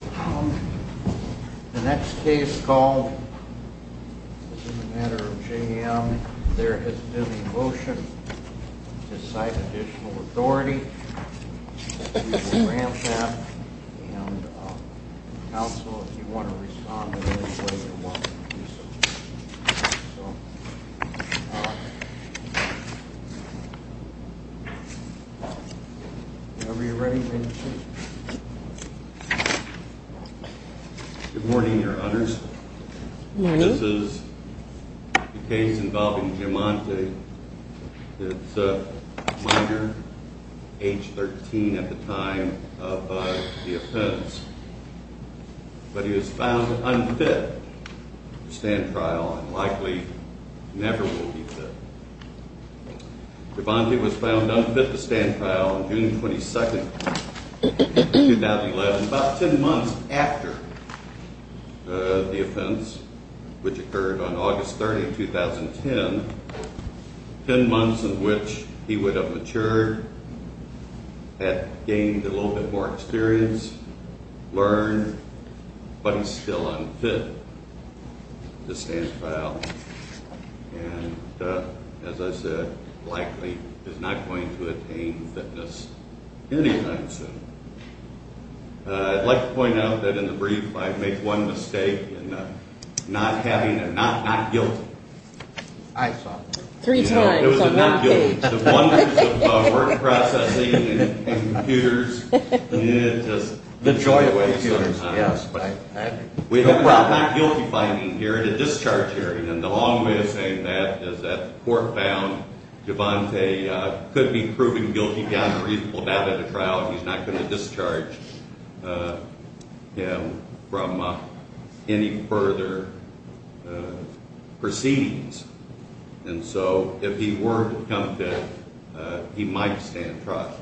The next case called matter of J.M. There has been a motion to cite additional authority. And, uh, Council, if you want to respond. Good morning, your honors. This is a case involving Jumante. It's a minor, age 13 at the time of the offense. But he was found unfit to stand trial and likely never will be fit. Jumante was found unfit to stand trial on June 22, 2011. About ten months after the offense, which occurred on August 30, 2010. Ten months in which he would have matured, had gained a little bit more experience, learned. But he's still unfit to stand trial. And, uh, as I said, likely is not going to attain fitness anytime soon. I'd like to point out that in the brief I make one mistake in not having a not not guilty. I saw that. Three times on that page. The wonders of work processing and computers. The joy of computers, yes. We have a not guilty finding here at a discharge hearing. And the long way of saying that is that the court found Jumante could be proven guilty beyond a reasonable doubt at a trial. He's not going to discharge him from any further proceedings. And so if he were to become fit, he might stand trial.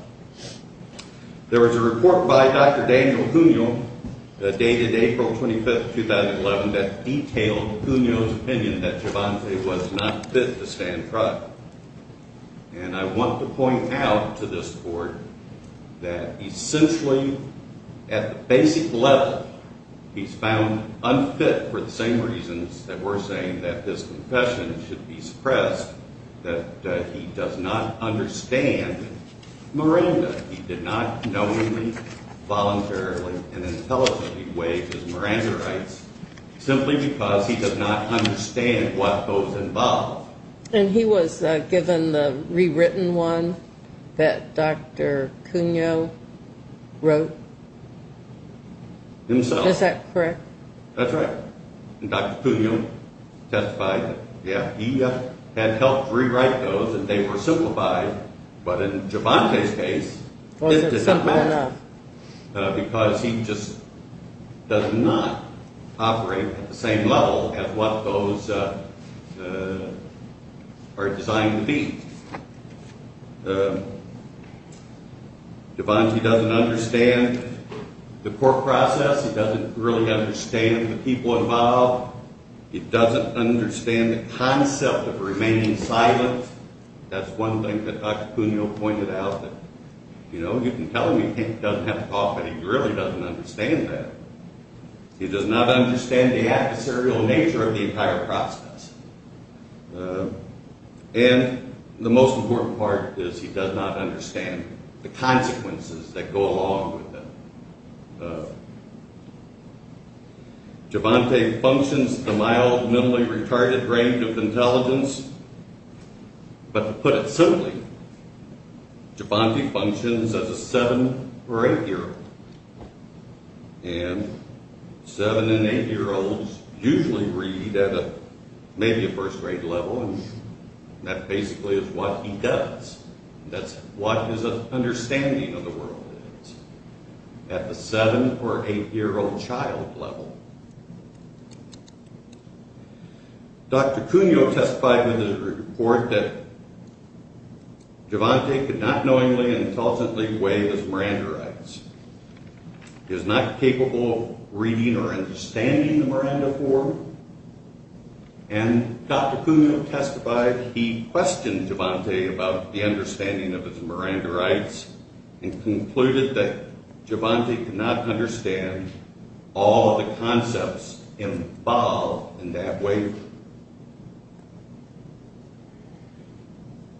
There was a report by Dr. Daniel Junio dated April 25, 2011 that detailed Junio's opinion that Jumante was not fit to stand trial. And I want to point out to this court that essentially at the basic level, he's found unfit for the same reasons that we're saying that his confession should be suppressed. That he does not understand Miranda. He did not knowingly, voluntarily, and intelligently waive his Miranda rights simply because he does not understand what goes involved. And he was given the rewritten one that Dr. Junio wrote? Himself. Is that correct? That's right. And Dr. Junio testified that, yeah, he had helped rewrite those and they were simplified. But in Jumante's case, it didn't matter because he just does not operate at the same level as what those are designed to be. Jumante doesn't understand the court process. He doesn't really understand the people involved. He doesn't understand the concept of remaining silent. That's one thing that Dr. Junio pointed out that, you know, you can tell him he doesn't have to talk, but he really doesn't understand that. He does not understand the adversarial nature of the entire process. And the most important part is he does not understand the consequences that go along with it. Jumante functions at the mild, minimally retarded range of intelligence. But to put it simply, Jumante functions as a seven or eight year old. And seven and eight year olds usually read at maybe a first grade level, and that basically is what he does. That's what his understanding of the world is at the seven or eight year old child level. Dr. Junio testified in his report that Jumante could not knowingly and intelligently weigh his Miranda rights. He is not capable of reading or understanding the Miranda form. And Dr. Junio testified he questioned Jumante about the understanding of his Miranda rights and concluded that Jumante could not understand all the concepts involved in that waiver.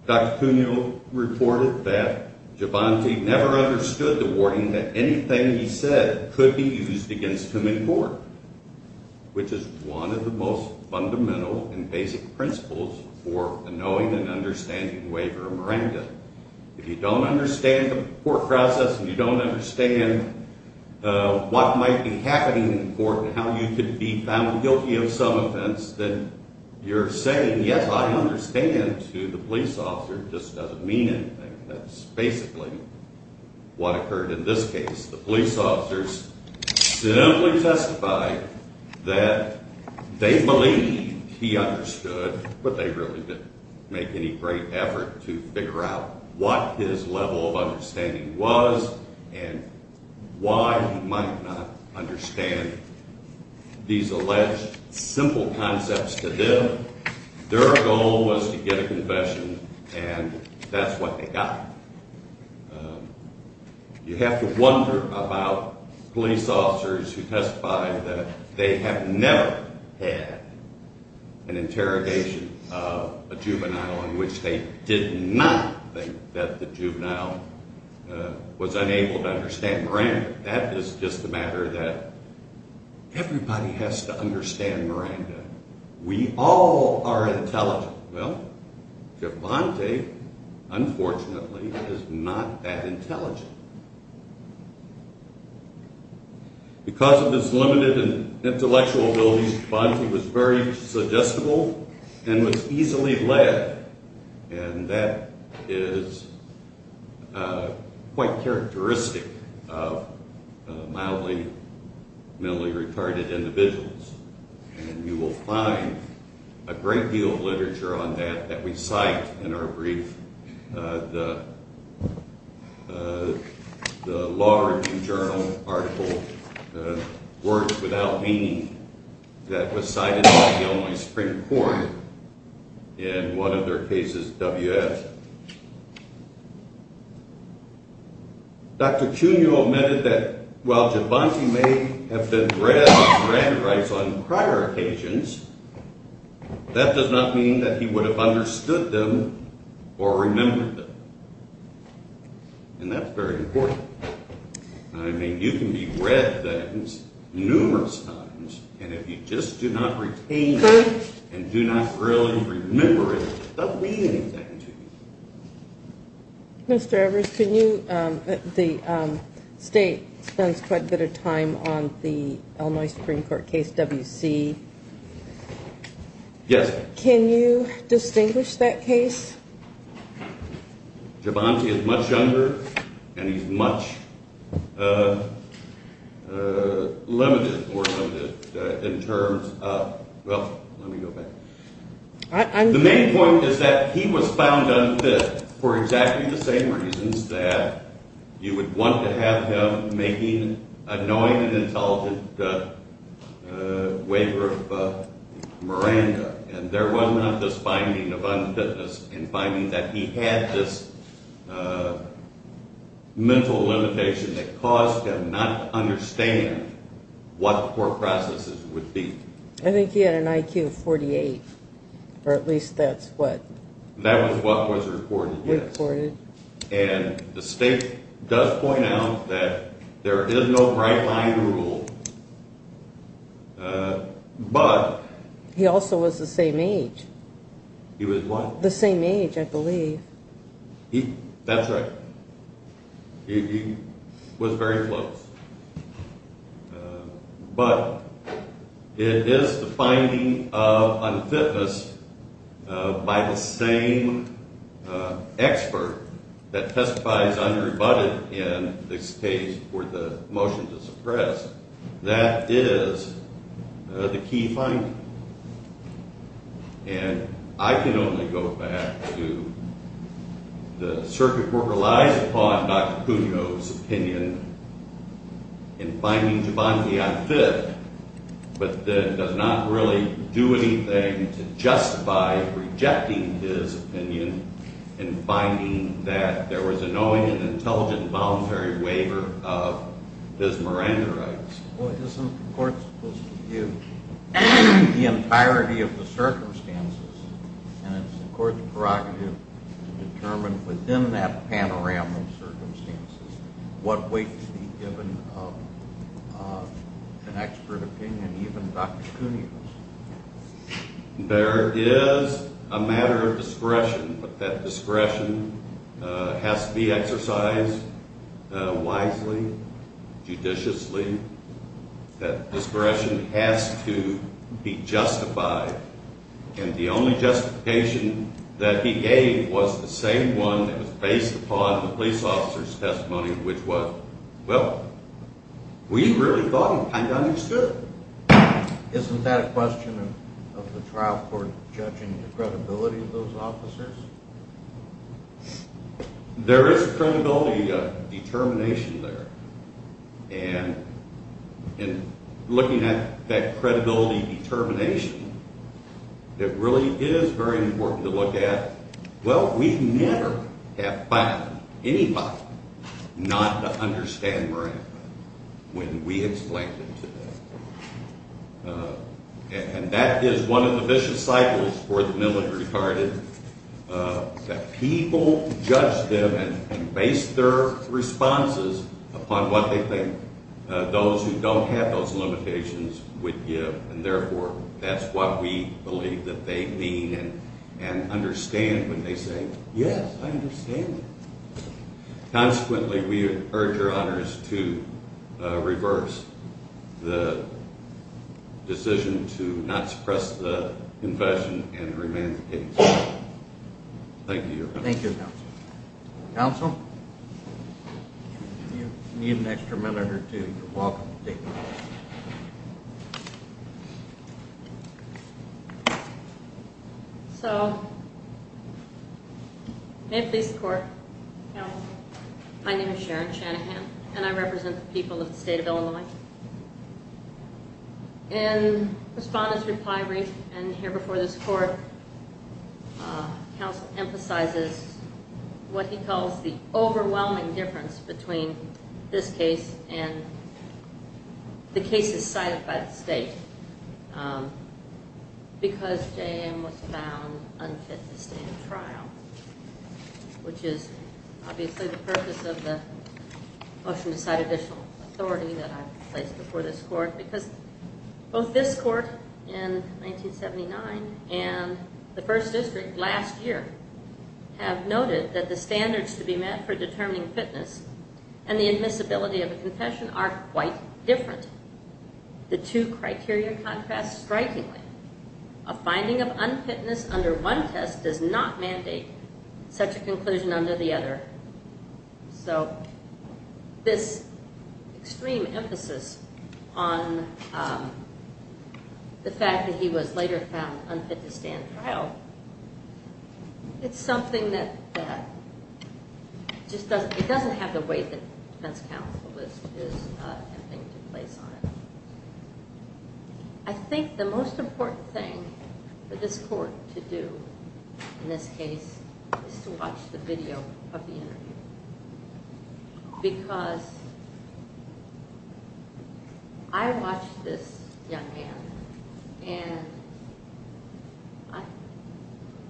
Dr. Junio reported that Jumante never understood the warning that anything he said could be used against him in court, which is one of the most fundamental and basic principles for the knowing and understanding waiver of Miranda. If you don't understand the court process and you don't understand what might be happening in court and how you could be found guilty of some offense, then you're saying, yes, I understand, to the police officer. It just doesn't mean anything. That's basically what occurred in this case. The police officers simply testified that they believed he understood, but they really didn't make any great effort to figure out what his level of understanding was and why he might not understand these alleged simple concepts to them. Their goal was to get a confession, and that's what they got. You have to wonder about police officers who testify that they have never had an interrogation of a juvenile in which they did not think that the juvenile was unable to understand Miranda. That is just a matter that everybody has to understand Miranda. We all are intelligent. Well, Givante, unfortunately, is not that intelligent. Because of his limited intellectual ability, Givante was very suggestible and was easily led, and that is quite characteristic of mildly mentally retarded individuals. And you will find a great deal of literature on that that we cite in our brief. The Law Review Journal article, Words Without Meaning, that was cited by the Illinois Supreme Court in one of their cases, WF. Dr. Cuno admitted that while Givante may have been read and memorized on prior occasions, that does not mean that he would have understood them or remembered them, and that's very important. I mean, you can be read things numerous times, and if you just do not retain them and do not really remember it, it doesn't mean anything to you. Mr. Evers, the state spends quite a bit of time on the Illinois Supreme Court case WC. Yes. Can you distinguish that case? Givante is much younger and he's much limited in terms of—well, let me go back. The main point is that he was found unfit for exactly the same reasons that you would want to have him making a knowing and intelligent waiver of Miranda, and there was not this finding of unfitness and finding that he had this mental limitation that caused him not to understand what court processes would be. I think he had an IQ of 48, or at least that's what— That was what was reported, yes. Reported. And the state does point out that there is no right-minded rule, but— He also was the same age. He was what? The same age, I believe. That's right. He was very close. But it is the finding of unfitness by the same expert that testifies unrebutted in this case for the motion to suppress. That is the key finding. And I can only go back to the circuit where it relies upon Dr. Cuno's opinion in finding Givante unfit, but then does not really do anything to justify rejecting his opinion in finding that there was a knowing and intelligent voluntary waiver of his Miranda rights. Well, isn't the court supposed to give the entirety of the circumstances, and it's the court's prerogative to determine within that panorama of circumstances what weight to be given of an expert opinion, even Dr. Cuno's? There is a matter of discretion, but that discretion has to be exercised wisely, judiciously. That discretion has to be justified. And the only justification that he gave was the same one that was based upon the police officer's testimony, which was, well, we really thought he kind of understood. Isn't that a question of the trial court judging the credibility of those officers? There is a credibility determination there, and in looking at that credibility determination, it really is very important to look at, well, we never have found anybody not to understand Miranda when we explained it to them. And that is one of the vicious cycles for the military, that people judge them and base their responses upon what they think those who don't have those limitations would give, and therefore that's what we believe that they mean and understand when they say, yes, I understand. Consequently, we urge your honors to reverse the decision to not suppress the confession and remain the case. Thank you, Your Honor. Thank you, Counsel. Counsel? You need an extra minute or two. You're welcome to take the floor. So may it please the Court. Counsel? My name is Sharon Shanahan, and I represent the people of the state of Illinois. In Respondent's reply brief and here before this Court, Counsel emphasizes what he calls the overwhelming difference between this case and the cases cited by the state, because J.A.M. was found unfit to stand trial, which is obviously the purpose of the motion to cite additional authority that I've placed before this Court, because both this Court in 1979 and the First District last year have noted that the standards to be met for determining fitness and the admissibility of a confession are quite different. The two criteria contrast strikingly. A finding of unfitness under one test does not mandate such a conclusion under the other. So this extreme emphasis on the fact that he was later found unfit to stand trial, it's something that just doesn't have the weight that defense counsel is intending to place on it. I think the most important thing for this Court to do in this case is to watch the video of the interview, because I watched this young man, and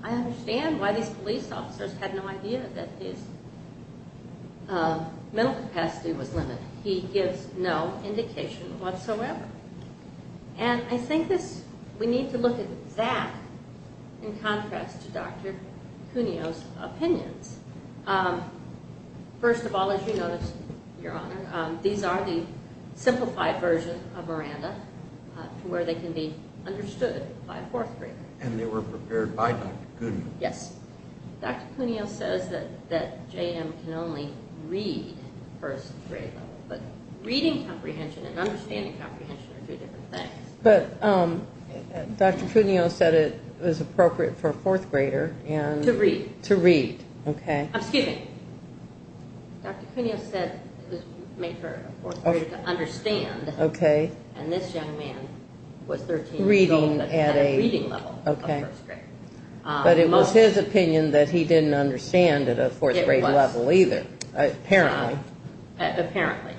I understand why these police officers had no idea that his mental capacity was limited. He gives no indication whatsoever. And I think we need to look at that in contrast to Dr. Cuneo's opinions. First of all, as you notice, Your Honor, these are the simplified version of Miranda, to where they can be understood by a fourth grader. And they were prepared by Dr. Cuneo. Yes. Dr. Cuneo says that JM can only read first grade level, but reading comprehension and understanding comprehension are two different things. But Dr. Cuneo said it was appropriate for a fourth grader to read. To read. Okay. Excuse me. Dr. Cuneo said it was made for a fourth grader to understand. Okay. And this young man was 13 years old but had a reading level of first grade. But it was his opinion that he didn't understand at a fourth grade level either. It was. Apparently. Apparently.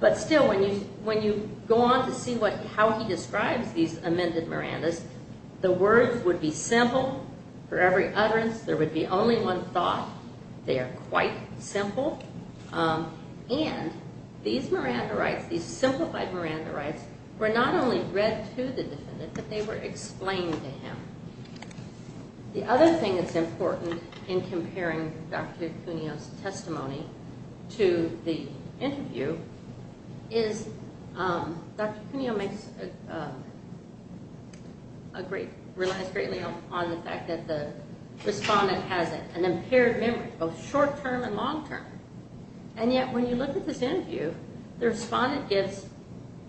But still, when you go on to see how he describes these amended Mirandas, the words would be simple for every utterance. There would be only one thought. They are quite simple. And these Miranda rites, these simplified Miranda rites, were not only read to the defendant, but they were explained to him. The other thing that's important in comparing Dr. Cuneo's testimony to the interview is Dr. Cuneo relies greatly on the fact that the respondent has an impaired memory, both short-term and long-term. And yet when you look at this interview, the respondent gives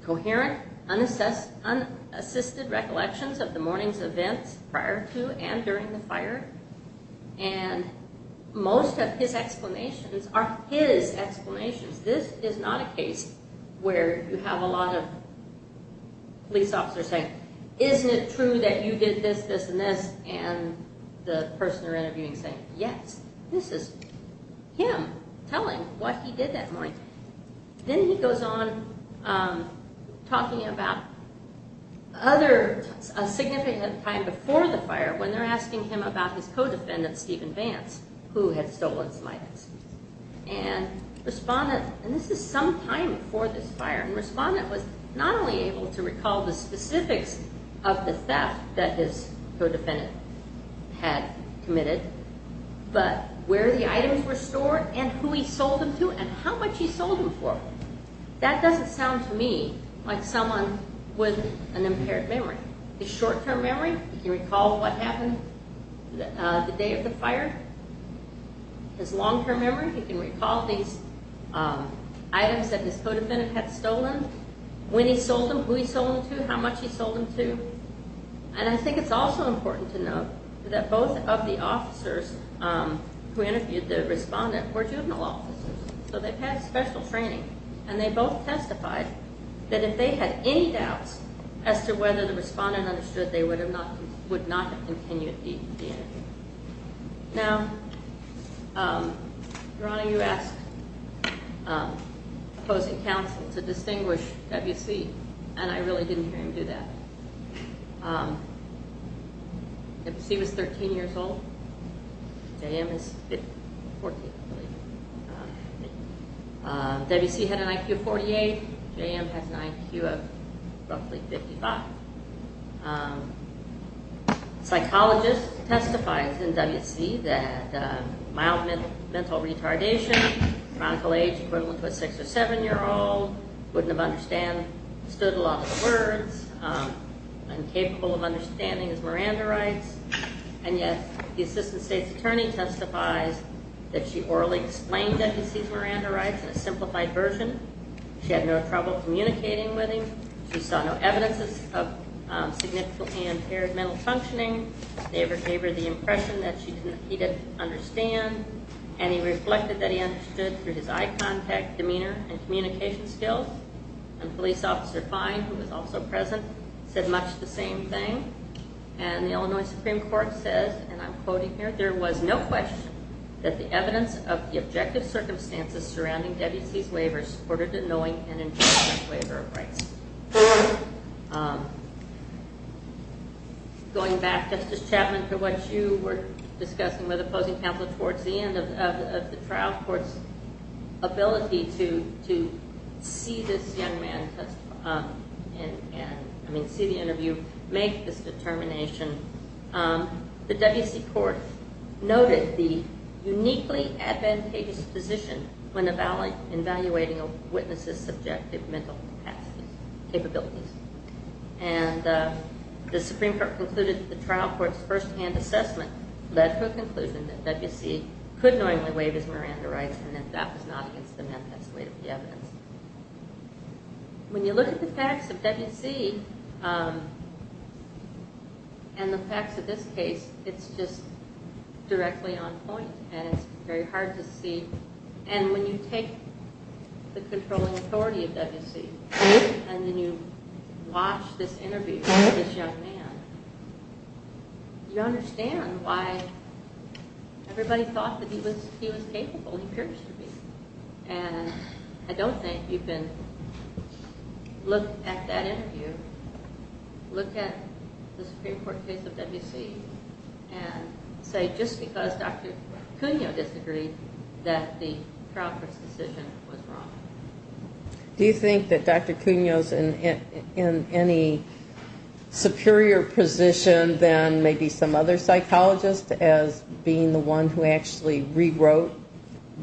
coherent, unassisted recollections of the morning's events prior to and during the fire, and most of his explanations are his explanations. This is not a case where you have a lot of police officers saying, isn't it true that you did this, this, and this, and the person you're interviewing is saying, yes. This is him telling what he did that morning. Then he goes on talking about a significant time before the fire when they're asking him about his co-defendant, Stephen Vance, who had stolen some items. And this is some time before this fire, and the respondent was not only able to recall the specifics of the theft that his co-defendant had committed, but where the items were stored and who he sold them to and how much he sold them for. That doesn't sound to me like someone with an impaired memory. His short-term memory, he can recall what happened the day of the fire. His long-term memory, he can recall these items that his co-defendant had stolen, when he sold them, who he sold them to, how much he sold them to. And I think it's also important to note that both of the officers who interviewed the respondent were juvenile officers, so they've had special training. And they both testified that if they had any doubts as to whether the respondent understood, they would not have continued the interview. Now, Veronica, you asked opposing counsel to distinguish WC, and I really didn't hear him do that. WC was 13 years old. JM is 14, I believe. WC had an IQ of 48. JM has an IQ of roughly 55. Psychologists testified in WC that mild mental retardation, chronical age equivalent to a 6- or 7-year-old, wouldn't have understood a lot of the words, incapable of understanding his Miranda rights. And yet the assistant state's attorney testifies that she orally explained that he sees Miranda rights in a simplified version. She had no trouble communicating with him. She saw no evidences of significantly impaired mental functioning. They gave her the impression that he didn't understand, and he reflected that he understood through his eye contact, demeanor, and communication skills. And Police Officer Fine, who was also present, said much the same thing. And the Illinois Supreme Court says, and I'm quoting here, there was no question that the evidence of the objective circumstances surrounding WC's waivers supported a knowing and informed waiver of rights. Going back, Justice Chapman, to what you were discussing with opposing counsel towards the end of the trial court's ability to see this young man testify and, I mean, see the interview, make this determination, the WC court noted the uniquely advantageous position when evaluating a witness's subjective mental capacities, capabilities. And the Supreme Court concluded that the trial court's firsthand assessment led to a conclusion that WC could knowingly waive his Miranda rights and that that was not against the manifest weight of the evidence. When you look at the facts of WC and the facts of this case, it's just directly on point, and it's very hard to see. And when you take the controlling authority of WC and then you watch this interview of this young man, you understand why everybody thought that he was capable, he appeared to be. And I don't think you can look at that interview, look at the Supreme Court case of WC, and say just because Dr. Cuneo disagreed that the trial court's decision was wrong. Do you think that Dr. Cuneo's in any superior position than maybe some other psychologist as being the one who actually rewrote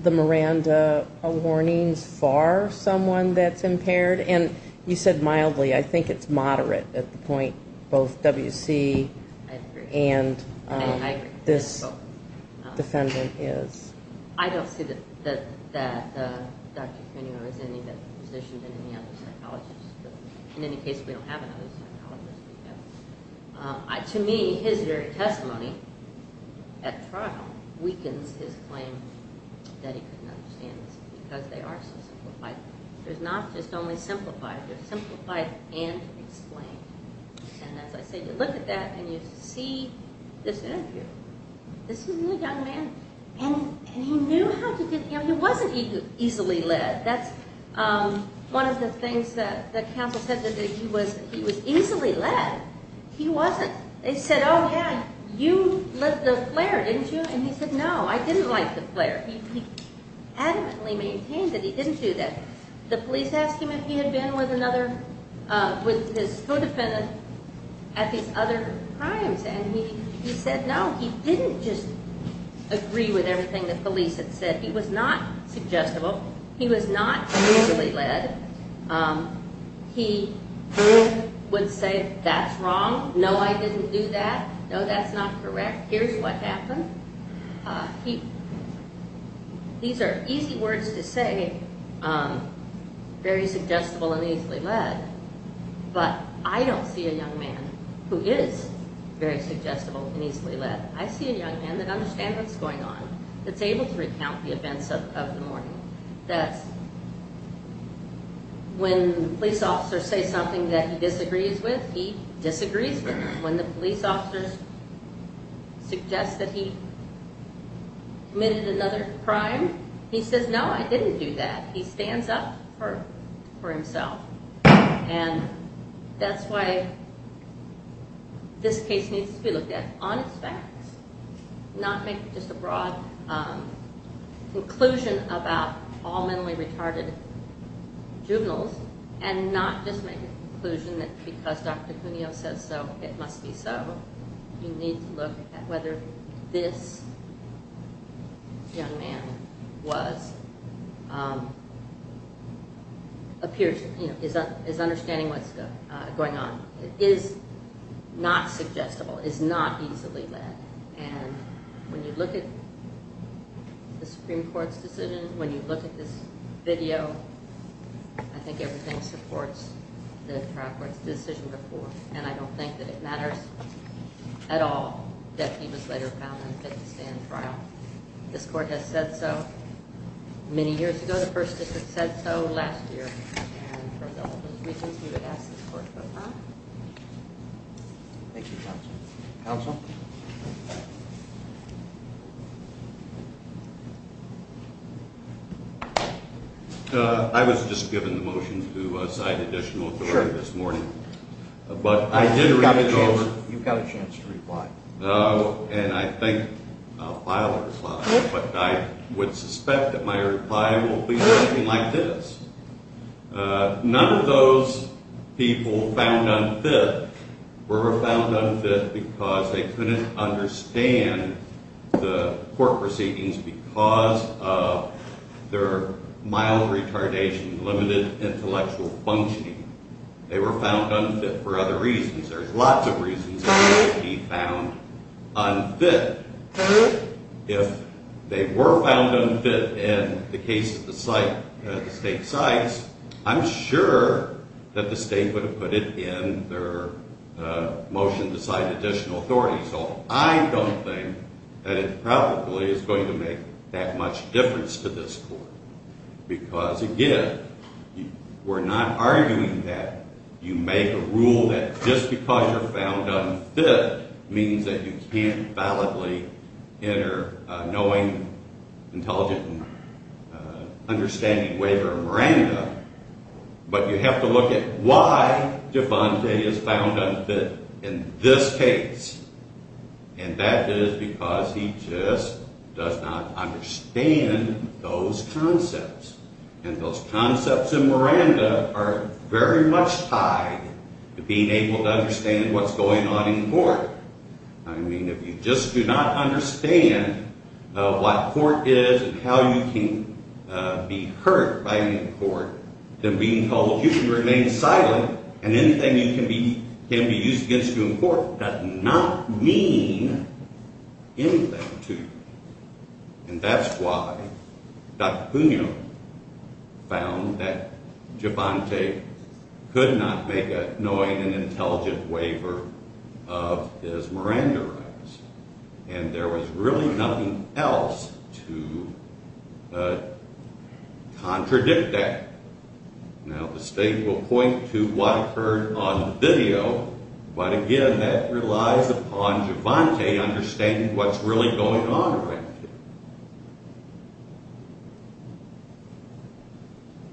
the Miranda warnings for someone that's impaired? And you said mildly, I think it's moderate at the point both WC and this defendant is. I don't see that Dr. Cuneo is in any better position than any other psychologist. In any case, we don't have another psychologist. To me, his very testimony at trial weakens his claim that he couldn't understand this because they are so simplified. They're not just only simplified, they're simplified and explained. And as I say, you look at that and you see this interview. This is a young man and he knew how to get him. He wasn't easily led. That's one of the things that counsel said, that he was easily led. He wasn't. They said, oh yeah, you lit the flare, didn't you? And he said, no, I didn't light the flare. He adamantly maintained that he didn't do that. The police asked him if he had been with another, with his co-defendant at these other crimes and he said, no, he didn't just agree with everything the police had said. He was not suggestible. He was not easily led. He would say, that's wrong. No, I didn't do that. No, that's not correct. Here's what happened. These are easy words to say, very suggestible and easily led. But I don't see a young man who is very suggestible and easily led. I see a young man that understands what's going on, that's able to recount the events of the morning. That when police officers say something that he disagrees with, he disagrees with it. When the police officers suggest that he committed another crime, he says, no, I didn't do that. He stands up for himself and that's why this case needs to be looked at on its facts. Not make just a broad conclusion about all mentally retarded juveniles and not just make a conclusion that because Dr. Cuneo says so, it must be so. You need to look at whether this young man is understanding what's going on. It is not suggestible. It is not easily led. When you look at the Supreme Court's decision, when you look at this video, I think everything supports the trial court's decision before. And I don't think that it matters at all that he was later found unfit to stand trial. This court has said so many years ago. The first district said so last year. And for all of those reasons, we would ask that this court vote aye. Thank you, counsel. Counsel? I was just given the motion to sign additional authority this morning. But I did read it over. You've got a chance to reply. And I think I'll file a reply. But I would suspect that my reply will be something like this. None of those people found unfit were found unfit because they couldn't understand the court proceedings because of their mild retardation, limited intellectual functioning. They were found unfit for other reasons. There's lots of reasons why he found unfit. If they were found unfit in the case that the state cites, I'm sure that the state would have put it in their motion to sign additional authority. So I don't think that it probably is going to make that much difference to this court. Because, again, we're not arguing that you make a rule that just because you're found unfit means that you can't validly enter knowing, intelligent, and understanding waiver of Miranda. But you have to look at why Devante is found unfit in this case. And that is because he just does not understand those concepts. And those concepts in Miranda are very much tied to being able to understand what's going on in court. I mean, if you just do not understand what court is and how you can be hurt by being in court, then being told you can remain silent and anything you can be used against you in court does not mean anything to you. And that's why Dr. Cunha found that Devante could not make a knowing and intelligent waiver of his Miranda rights. And there was really nothing else to contradict that. Now, the state will point to what occurred on video. But, again, that relies upon Devante understanding what's really going on around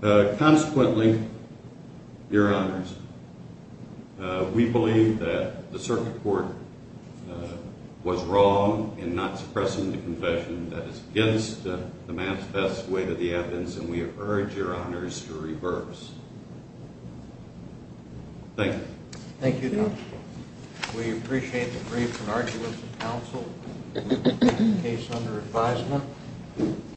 him. Consequently, Your Honors, we believe that the circuit court was wrong in not suppressing the confession. That is against the man's best way to the evidence. And we urge Your Honors to reverse. Thank you. Thank you, counsel. We appreciate the brief and arduous counsel in the case under advisement.